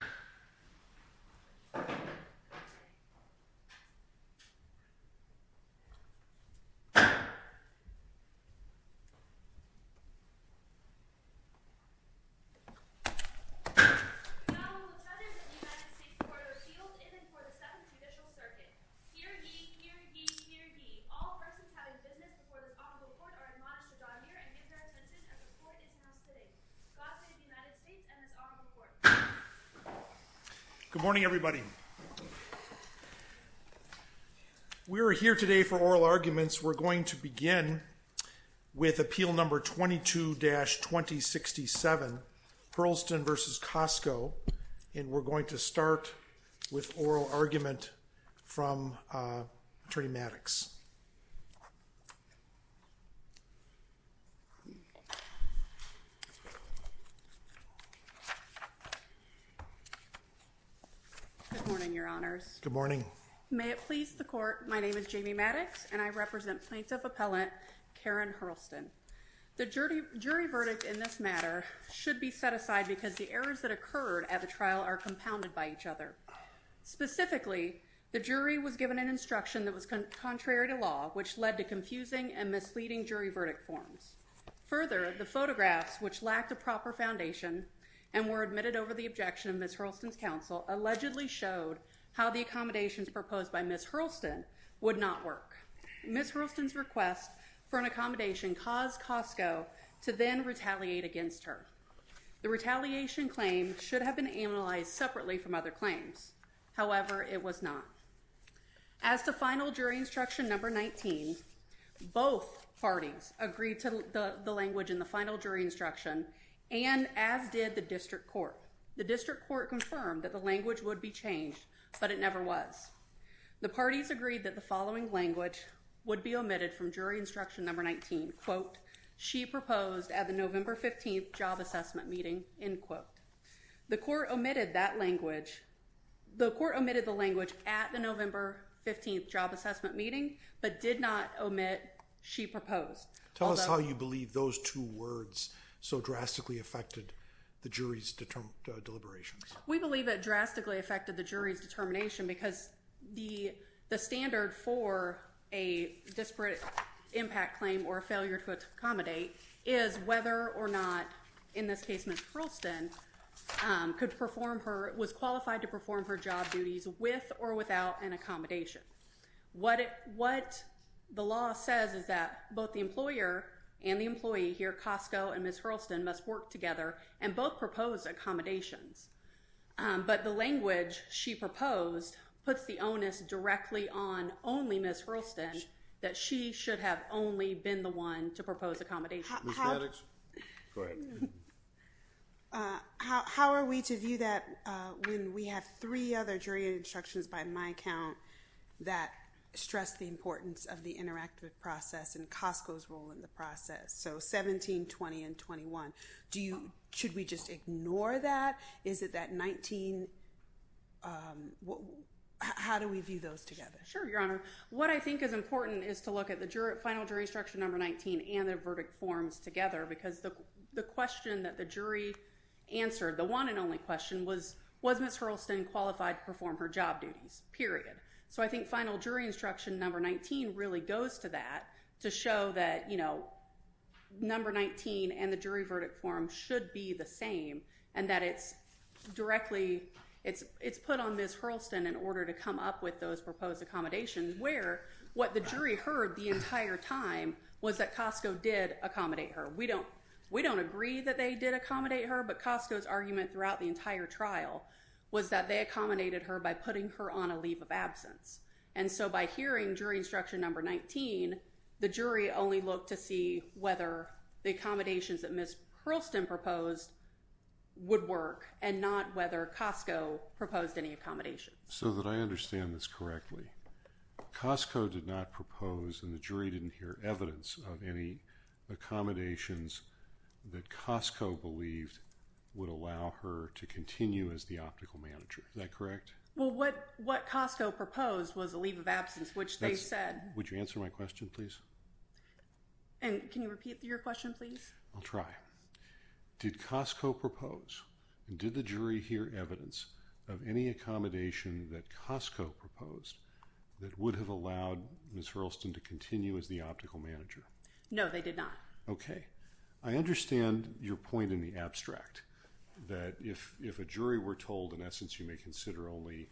The President of the United States and the Court of Appeals in and for the 7th Judicial Circuit. Hear ye, hear ye, hear ye. All persons having business before this Honorable Court are admonished to draw near and give their attention as the Court is now sitting. God Save the United States and this Honorable Court. Good morning, everybody. We are here today for oral arguments. We're going to begin with Appeal No. 22-2067, Hirlston v. Costco, and we're going to start with oral argument from Attorney Maddox. Good morning, Your Honors. Good morning. May it please the Court, my name is Jamie Maddox, and I represent Plaintiff Appellant Karen Hirlston. The jury verdict in this matter should be set aside because the errors that occurred at the trial are compounded by each other. Specifically, the jury was given an instruction that was contrary to law, which led to confusing and misleading jury verdict forms. Further, the photographs, which lacked a proper foundation and were admitted over the objection of Ms. Hirlston's counsel, allegedly showed how the accommodations proposed by Ms. Hirlston would not work. Ms. Hirlston's request for an accommodation caused Costco to then retaliate against her. The retaliation claim should have been analyzed separately from other claims. However, it was not. As to Final Jury Instruction No. 19, both parties agreed to the language in the Final Jury Instruction, and as did the District Court. The District Court confirmed that the language would be changed, but it never was. The parties agreed that the following language would be omitted from Jury Instruction No. The court omitted the language at the November 15th job assessment meeting, but did not omit she proposed. Tell us how you believe those two words so drastically affected the jury's deliberations. We believe it drastically affected the jury's determination because the standard for a disparate impact claim or failure to accommodate is whether or not, in this case Ms. Hirlston, could perform her, was qualified to perform her job duties with or without an accommodation. What the law says is that both the employer and the employee here, Costco and Ms. Hirlston, must work together and both propose accommodations. But the language she proposed puts the onus directly on only Ms. Hirlston, that she should have only been the one to propose accommodations. Ms. Maddox? Go ahead. How are we to view that when we have three other jury instructions by my count that stress the importance of the interactive process and Costco's role in the process? So 17, 20, and 21. Should we just ignore that? Is it that 19? How do we view those together? Sure, Your Honor. What I think is important is to look at the final jury instruction number 19 and their verdict forms together because the question that the jury answered, the one and only question, was Ms. Hirlston qualified to perform her job duties, period. So I think final jury instruction number 19 really goes to that to show that number 19 and the jury verdict form should be the same and that it's directly, it's put on Ms. Hirlston in order to come up with those proposed accommodations where what the jury heard the entire time was that Costco did accommodate her. We don't agree that they did accommodate her, but Costco's argument throughout the entire trial was that they accommodated her by putting her on a leave of absence. And so by hearing jury instruction number 19, the jury only looked to see whether the accommodations that Ms. Hirlston proposed would work and not whether Costco proposed any accommodations. So that I understand this correctly, Costco did not propose and the jury didn't hear evidence of any accommodations that Costco believed would allow her to continue as the optical manager. Is that correct? Well, what Costco proposed was a leave of absence, which they said. Would you answer my question, please? And can you repeat your question, please? I'll try. Did Costco propose and did the jury hear evidence of any accommodation that Costco proposed that would have allowed Ms. Hirlston to continue as the optical manager? No, they did not. Okay. I understand your point in the abstract that if a jury were told, in essence, you may consider only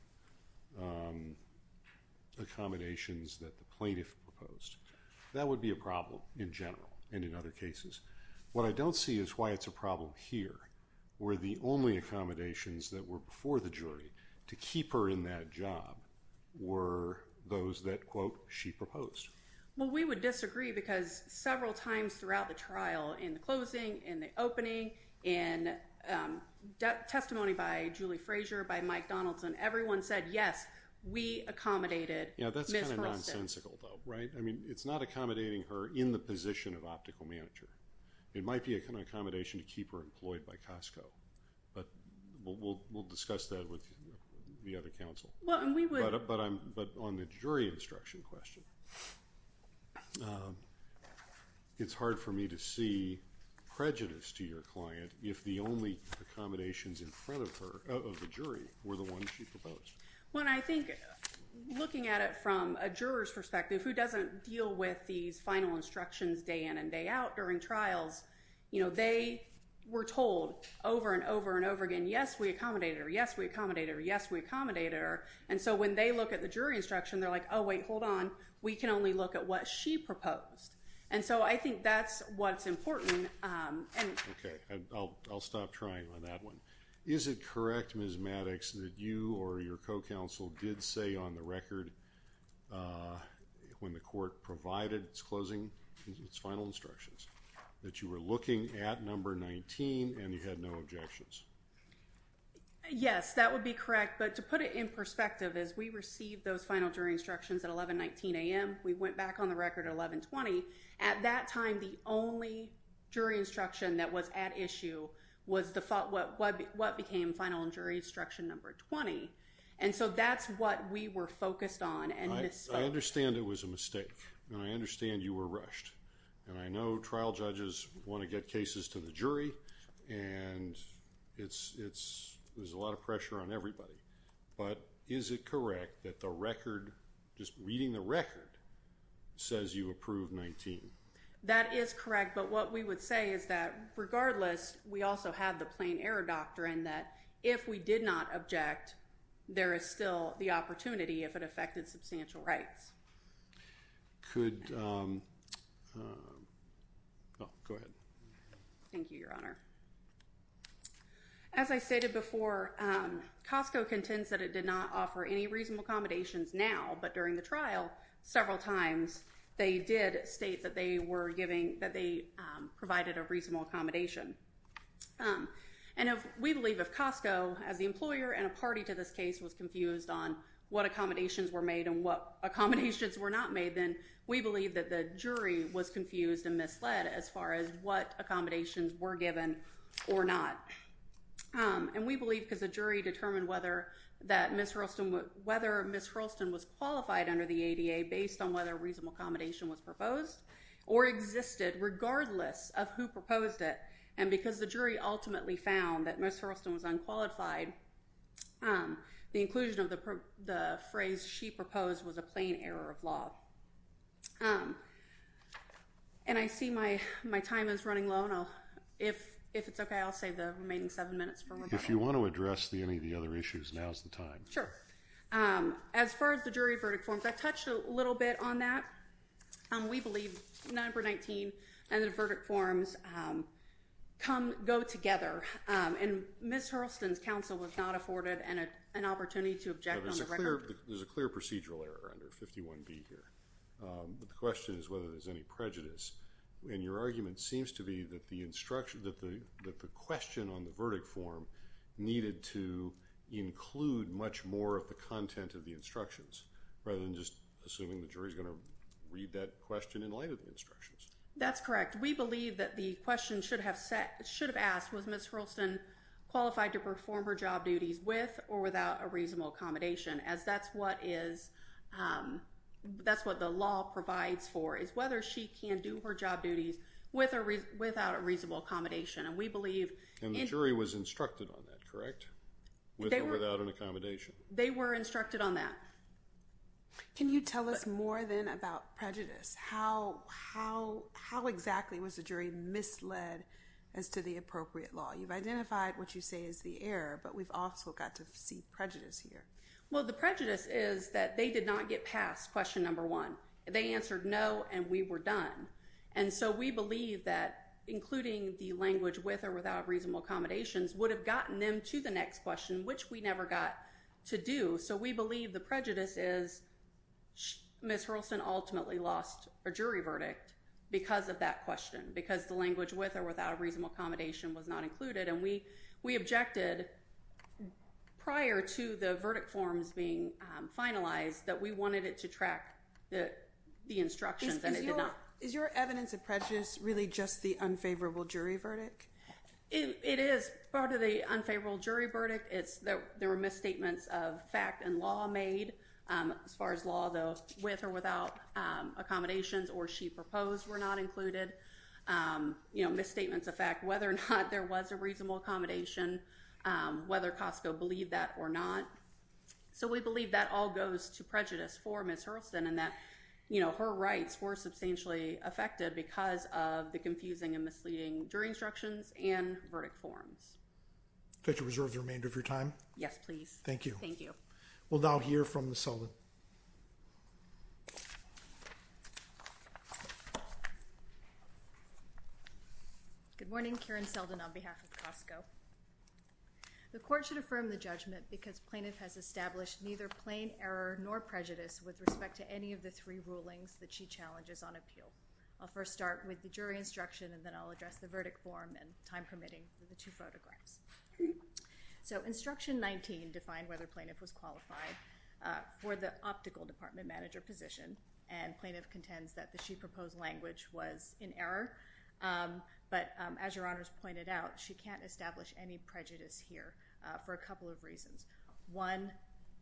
accommodations that the plaintiff proposed, that would be a problem in general and in other cases. What I don't see is why it's a problem here, where the only accommodations that were before the jury to keep her in that job were those that, quote, she proposed. Well, we would disagree because several times throughout the trial, in the closing, in the everyone said, yes, we accommodated Ms. Hirlston. Yeah, that's kind of nonsensical, though, right? I mean, it's not accommodating her in the position of optical manager. It might be an accommodation to keep her employed by Costco, but we'll discuss that with the other counsel. Well, and we would- But on the jury instruction question, it's hard for me to see prejudice to your client if the only accommodations in front of her, of the jury, were the ones she proposed. Well, and I think looking at it from a juror's perspective, who doesn't deal with these final instructions day in and day out during trials, you know, they were told over and over and over again, yes, we accommodated her, yes, we accommodated her, yes, we accommodated her. And so when they look at the jury instruction, they're like, oh, wait, hold on. We can only look at what she proposed. And so I think that's what's important. Okay. I'll stop trying on that one. Is it correct, Ms. Maddox, that you or your co-counsel did say on the record when the court provided its closing, its final instructions, that you were looking at number 19 and you had no objections? Yes, that would be correct, but to put it in perspective, as we received those final jury instructions at 1119 a.m., we went back on the record at 1120. At that time, the only jury instruction that was at issue was what became final jury instruction number 20. And so that's what we were focused on and Ms. Spock. I understand it was a mistake and I understand you were rushed and I know trial judges want to get cases to the jury and there's a lot of pressure on everybody, but is it correct that the record, just reading the record, says you approve 19? That is correct, but what we would say is that regardless, we also have the plain error doctrine that if we did not object, there is still the opportunity if it affected substantial rights. Could, go ahead. Thank you, Your Honor. As I stated before, Costco contends that it did not offer any reasonable accommodations now, but during the trial, several times, they did state that they were giving, that they provided a reasonable accommodation. And we believe if Costco, as the employer and a party to this case, was confused on what accommodations were made and what accommodations were not made, then we believe that the jury was confused and misled as far as what accommodations were given or not. And we believe because the jury determined whether Ms. Hurlston was qualified under the ADA based on whether a reasonable accommodation was proposed or existed regardless of who proposed it. And because the jury ultimately found that Ms. Hurlston was unqualified, the inclusion of the phrase she proposed was a plain error of law. And I see my time is running low, and if it's okay, I'll save the remaining seven minutes for rebuttal. If you want to address any of the other issues, now is the time. Sure. As far as the jury verdict forms, I touched a little bit on that. We believe number 19 and the verdict forms go together, and Ms. Hurlston's counsel was not afforded an opportunity to object on the record. But there's a clear procedural error under 51B here, but the question is whether there's any prejudice. And your argument seems to be that the question on the verdict form needed to include much more of the content of the instructions rather than just assuming the jury's going to read that question in light of the instructions. That's correct. We believe that the question should have asked, was Ms. Hurlston qualified to perform her job duties with or without a reasonable accommodation, as that's what the law provides for, is whether she can do her job duties with or without a reasonable accommodation. And we believe... And the jury was instructed on that, correct, with or without an accommodation? They were instructed on that. Can you tell us more then about prejudice? How exactly was the jury misled as to the appropriate law? You've identified what you say is the error, but we've also got to see prejudice here. Well, the prejudice is that they did not get past question number one. They answered no, and we were done. And so we believe that including the language with or without reasonable accommodations would have gotten them to the next question, which we never got to do. So we believe the prejudice is Ms. Hurlston ultimately lost her jury verdict because of that question, because the language with or without a reasonable accommodation was not included. And we objected prior to the verdict forms being finalized that we wanted it to track the instructions and it did not. Is your evidence of prejudice really just the unfavorable jury verdict? It is part of the unfavorable jury verdict. There were misstatements of fact and law made as far as law, though, with or without accommodations or she proposed were not included. You know, misstatements of fact, whether or not there was a reasonable accommodation, whether Costco believed that or not. So we believe that all goes to prejudice for Ms. Hurlston and that, you know, her rights were substantially affected because of the confusing and misleading jury instructions and verdict forms. Could you reserve the remainder of your time? Yes, please. Thank you. Thank you. We'll now hear from Ms. Seldin. Good morning. Karen Seldin on behalf of Costco. The court should affirm the judgment because plaintiff has established neither plain error nor prejudice with respect to any of the three rulings that she challenges on appeal. I'll first start with the jury instruction and then I'll address the verdict form and time permitting for the two photographs. So instruction 19 defined whether plaintiff was qualified for the optical department manager position and plaintiff contends that the she proposed language was in error. But as your honors pointed out, she can't establish any prejudice here for a couple of reasons. One,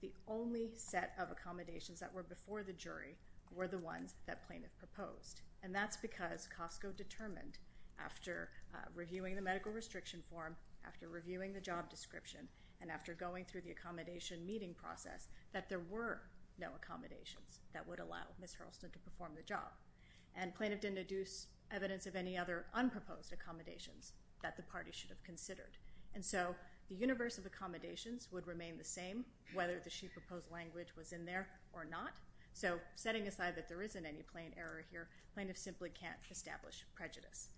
the only set of accommodations that were before the jury were the ones that plaintiff proposed. And that's because Costco determined after reviewing the medical restriction form, after reviewing the job description, and after going through the accommodation meeting process that there were no accommodations that would allow Ms. Hurlston to perform the job. And plaintiff didn't deduce evidence of any other unproposed accommodations that the party should have considered. And so the universe of accommodations would remain the same whether the she proposed language was in there or not. So setting aside that there isn't any plain error here, plaintiff simply can't establish prejudice.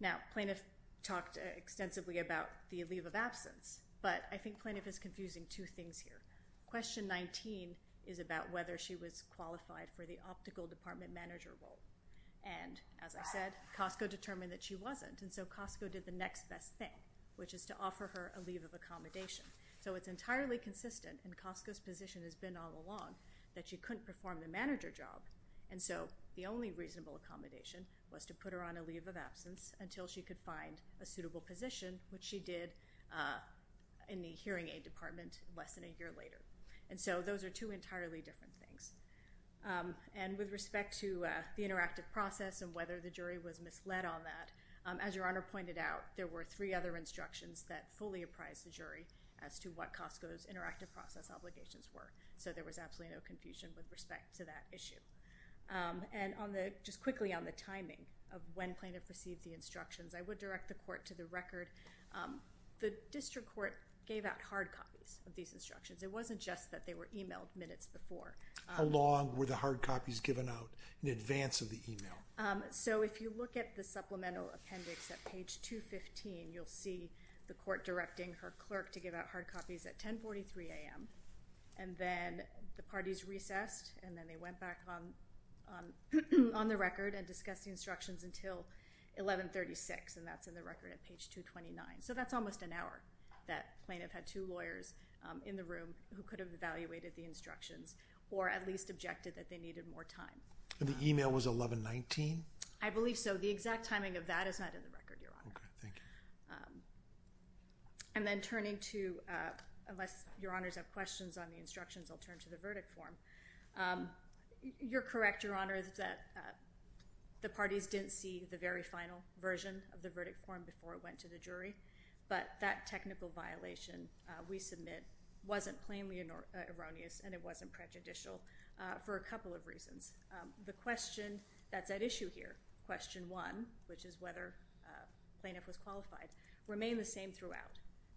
Now, plaintiff talked extensively about the leave of absence, but I think plaintiff is confusing two things here. Question 19 is about whether she was qualified for the optical department manager role. And as I said, Costco determined that she wasn't and so Costco did the next best thing, which is to offer her a leave of accommodation. So it's entirely consistent, and Costco's position has been all along, that she couldn't perform the manager job and so the only reasonable accommodation was to put her on a leave of absence until she could find a suitable position, which she did in the hearing aid department less than a year later. And so those are two entirely different things. And with respect to the interactive process and whether the jury was misled on that, as I said, there were three other instructions that fully apprised the jury as to what Costco's interactive process obligations were. So there was absolutely no confusion with respect to that issue. And on the, just quickly on the timing of when plaintiff received the instructions, I would direct the court to the record. The district court gave out hard copies of these instructions. It wasn't just that they were emailed minutes before. How long were the hard copies given out in advance of the email? So if you look at the supplemental appendix at page 215, you'll see the court directing her clerk to give out hard copies at 1043 a.m., and then the parties recessed, and then they went back on the record and discussed the instructions until 1136, and that's in the record at page 229. So that's almost an hour that plaintiff had two lawyers in the room who could have evaluated the instructions or at least objected that they needed more time. And the email was 1119? I believe so. The exact timing of that is not in the record, Your Honor. Okay, thank you. And then turning to, unless Your Honors have questions on the instructions, I'll turn to the verdict form. You're correct, Your Honor, that the parties didn't see the very final version of the verdict form before it went to the jury. But that technical violation, we submit, wasn't plainly erroneous and it wasn't prejudicial for a couple of reasons. The question that's at issue here, question one, which is whether plaintiff was qualified, remained the same throughout.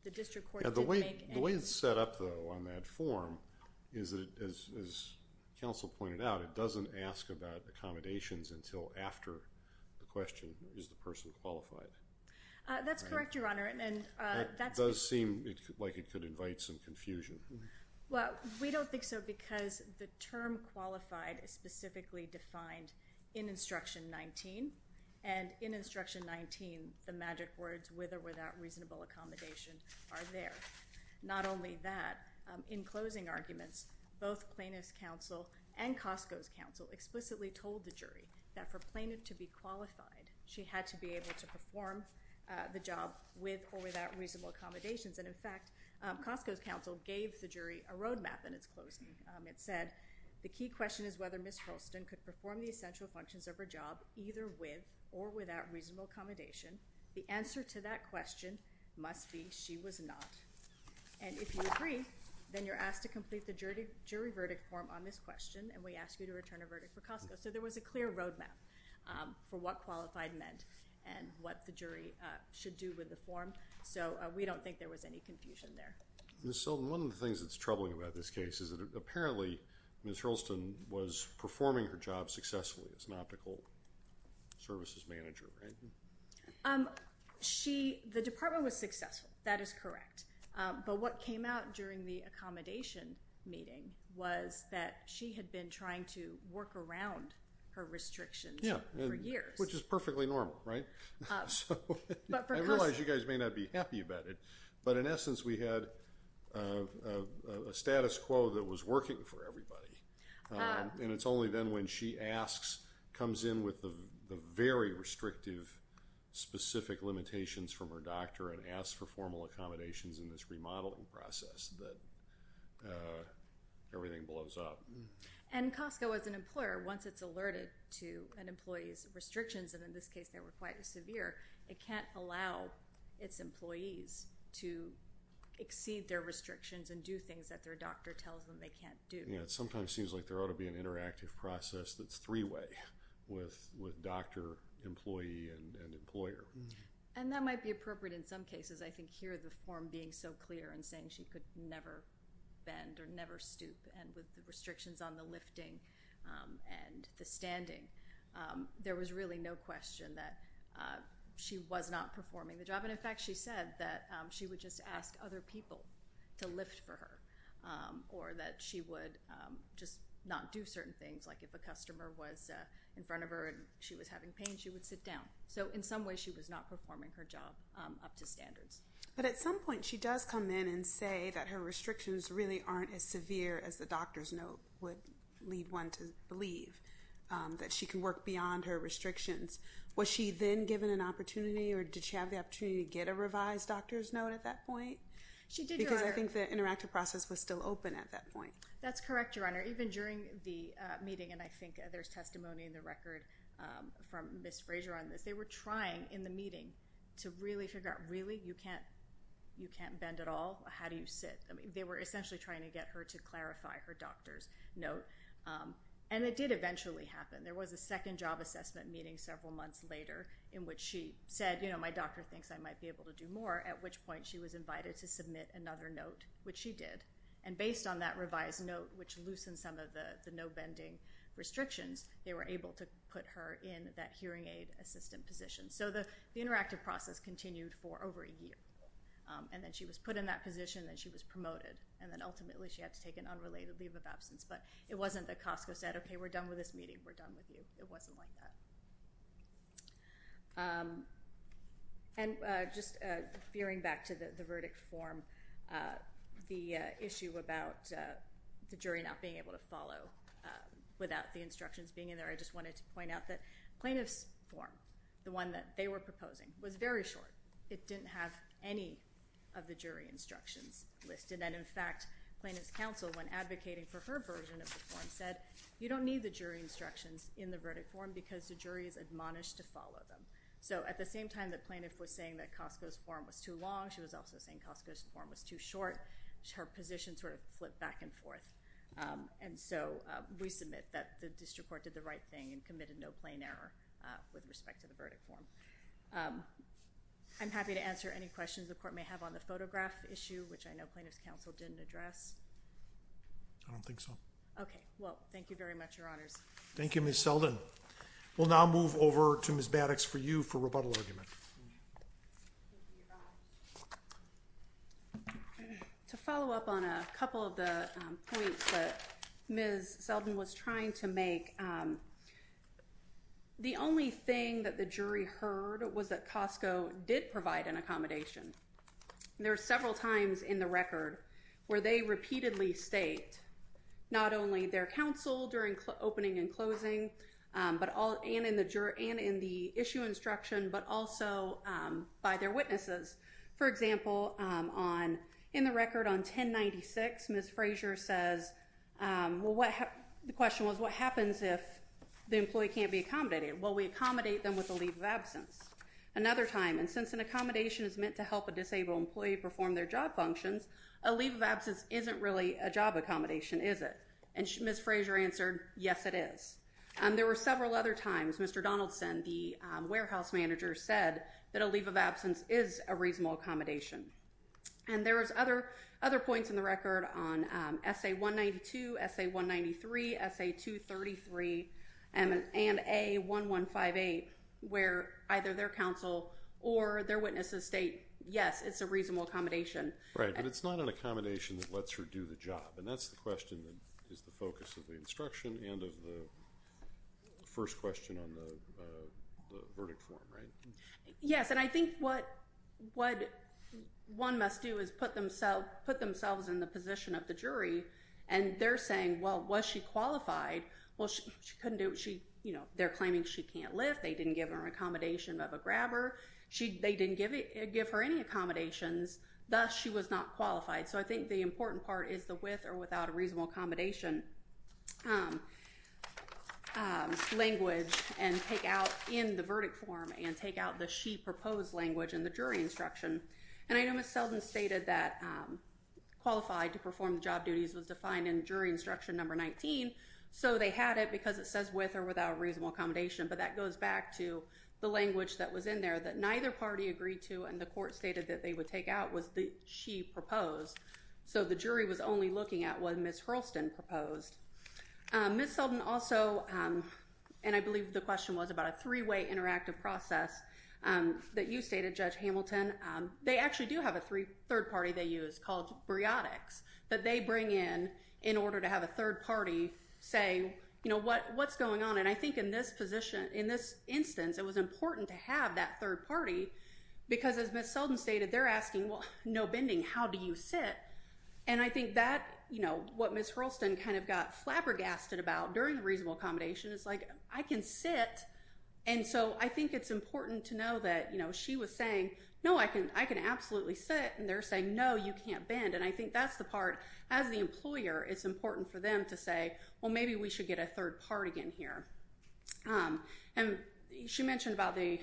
The district court didn't make any... The way it's set up, though, on that form is that, as counsel pointed out, it doesn't ask about accommodations until after the question, is the person qualified? That's correct, Your Honor, and that's... It does seem like it could invite some confusion. Well, we don't think so because the term qualified is specifically defined in Instruction 19, and in Instruction 19, the magic words, with or without reasonable accommodation, are there. Not only that, in closing arguments, both plaintiff's counsel and Costco's counsel explicitly told the jury that for plaintiff to be qualified, she had to be able to perform the job with or without reasonable accommodations. And in fact, Costco's counsel gave the jury a roadmap in its closing. It said, the key question is whether Ms. Holston could perform the essential functions of her job either with or without reasonable accommodation. The answer to that question must be she was not. And if you agree, then you're asked to complete the jury verdict form on this question, and we ask you to return a verdict for Costco. So there was a clear roadmap for what qualified meant and what the jury should do with the confusion there. Ms. Seldon, one of the things that's troubling about this case is that apparently, Ms. Holston was performing her job successfully as an optical services manager, right? The department was successful. That is correct. But what came out during the accommodation meeting was that she had been trying to work around her restrictions for years. Which is perfectly normal, right? I realize you guys may not be happy about it, but in essence, we had a status quo that was working for everybody. And it's only then when she asks, comes in with the very restrictive specific limitations from her doctor and asks for formal accommodations in this remodeling process that everything blows up. And Costco, as an employer, once it's alerted to an employee's restrictions, and in this case, they were quite severe, it can't allow its employees to exceed their restrictions and do things that their doctor tells them they can't do. Yeah, it sometimes seems like there ought to be an interactive process that's three-way with doctor, employee, and employer. And that might be appropriate in some cases. I think here, the form being so clear and saying she could never bend or never stoop and with the restrictions on the lifting and the standing, there was really no question that she was not performing the job. And in fact, she said that she would just ask other people to lift for her. Or that she would just not do certain things. Like if a customer was in front of her and she was having pain, she would sit down. So in some ways, she was not performing her job up to standards. But at some point, she does come in and say that her restrictions really aren't as severe as the doctor's note would lead one to believe. That she can work beyond her restrictions. Was she then given an opportunity? Or did she have the opportunity to get a revised doctor's note at that point? Because I think the interactive process was still open at that point. That's correct, Your Honor. Even during the meeting, and I think there's testimony in the record from Ms. Fraser on this, they were trying in the meeting to really figure out, really? You can't bend at all? How do you sit? They were essentially trying to get her to clarify her doctor's note. And it did eventually happen. There was a second job assessment meeting several months later in which she said, my doctor thinks I might be able to do more. At which point, she was invited to submit another note, which she did. And based on that revised note, which loosened some of the no bending restrictions, they were able to put her in that hearing aid assistant position. So the interactive process continued for over a year. And then she was put in that position and she was promoted. And then ultimately, she had to take an unrelated leave of absence. But it wasn't that Costco said, OK, we're done with this meeting. We're done with you. It wasn't like that. And just veering back to the verdict form, the issue about the jury not being able to follow without the instructions being in there, I just wanted to point out that plaintiff's form, the one that they were proposing, was very short. It didn't have any of the jury instructions listed. And in fact, plaintiff's counsel, when advocating for her version of the form, said, you don't need the jury instructions in the verdict form because the jury is admonished to follow them. So at the same time that plaintiff was saying that Costco's form was too long, she was also saying Costco's form was too short, her position sort of flipped back and forth. And so we submit that the district court did the right thing and committed no plain error with respect to the verdict form. I'm happy to answer any questions the court may have on the photograph issue, which I know plaintiff's counsel didn't address. I don't think so. OK, well, thank you very much, Your Honors. Thank you, Ms. Selden. We'll now move over to Ms. Baddocks for you for rebuttal argument. To follow up on a couple of the points that Ms. Selden was trying to make, the only thing that the jury heard was that Costco did provide an accommodation. There are several times in the record where they repeatedly state not only their counsel during opening and closing and in the issue instruction, but also by their witnesses. For example, in the record on 1096, Ms. Frazier says, well, the question was, what happens if the employee can't be accommodated? Well, we accommodate them with a leave of absence. Another time, and since an accommodation is meant to help a disabled employee perform their job functions, a leave of absence isn't really a job accommodation, is it? And Ms. Frazier answered, yes, it is. There were several other times Mr. Donaldson, the warehouse manager, said that a leave of absence is a reasonable accommodation. And there was other points in the record on SA-192, SA-193, SA-233, and A-1158, where either their counsel or their witnesses state, yes, it's a reasonable accommodation. Right. But it's not an accommodation that lets her do the job. And that's the question that is the focus of the instruction and of the first question on the verdict form, right? Yes. And I think what one must do is put themselves in the position of the jury, and they're saying, well, was she qualified? Well, she couldn't do it. They're claiming she can't live. They didn't give her an accommodation of a grabber. They didn't give her any accommodations. Thus, she was not qualified. So I think the important part is the with or without a reasonable accommodation language and take out in the verdict form and take out the she proposed language in the jury instruction. And I know Ms. Selden stated that qualified to perform job duties was defined in jury instruction number 19. So they had it because it says with or without a reasonable accommodation. But that goes back to the language that was in there that neither party agreed to. And the court stated that they would take out what she proposed. So the jury was only looking at what Ms. Hurlston proposed. Ms. Selden also, and I believe the question was about a three-way interactive process that you stated, Judge Hamilton, they actually do have a third party they use called briotics that they bring in in order to have a third party say, what's going on? I think in this position, in this instance, it was important to have that third party because as Ms. Selden stated, they're asking, well, no bending, how do you sit? And I think that what Ms. Hurlston kind of got flabbergasted about during the reasonable accommodation is like, I can sit. And so I think it's important to know that she was saying, no, I can absolutely sit. And they're saying, no, you can't bend. And I think that's the part as the employer, it's important for them to say, well, maybe we should get a third party in here. And she mentioned about the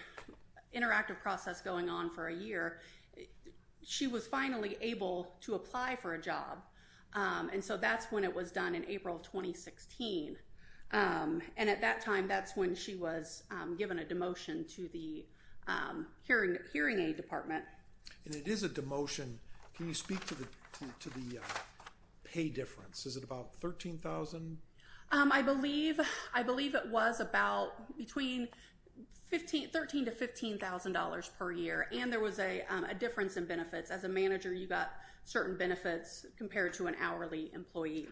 interactive process going on for a year. She was finally able to apply for a job. And so that's when it was done in April of 2016. And at that time, that's when she was given a demotion to the hearing aid department. And it is a demotion. Can you speak to the pay difference? Is it about $13,000? I believe it was about between $13,000 to $15,000 per year. And there was a difference in benefits. As a manager, you got certain benefits compared to an hourly employee.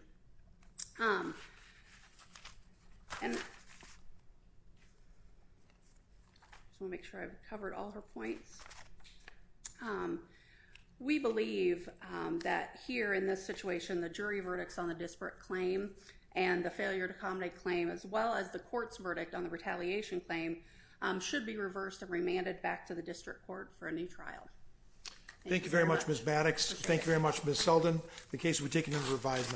And I just want to make sure I've covered all her points. Um, we believe that here in this situation, the jury verdicts on the disparate claim and the failure to accommodate claim, as well as the court's verdict on the retaliation claim should be reversed and remanded back to the district court for a new trial. Thank you very much, Ms. Maddox. Thank you very much, Ms. Selden. The case will be taken into revised.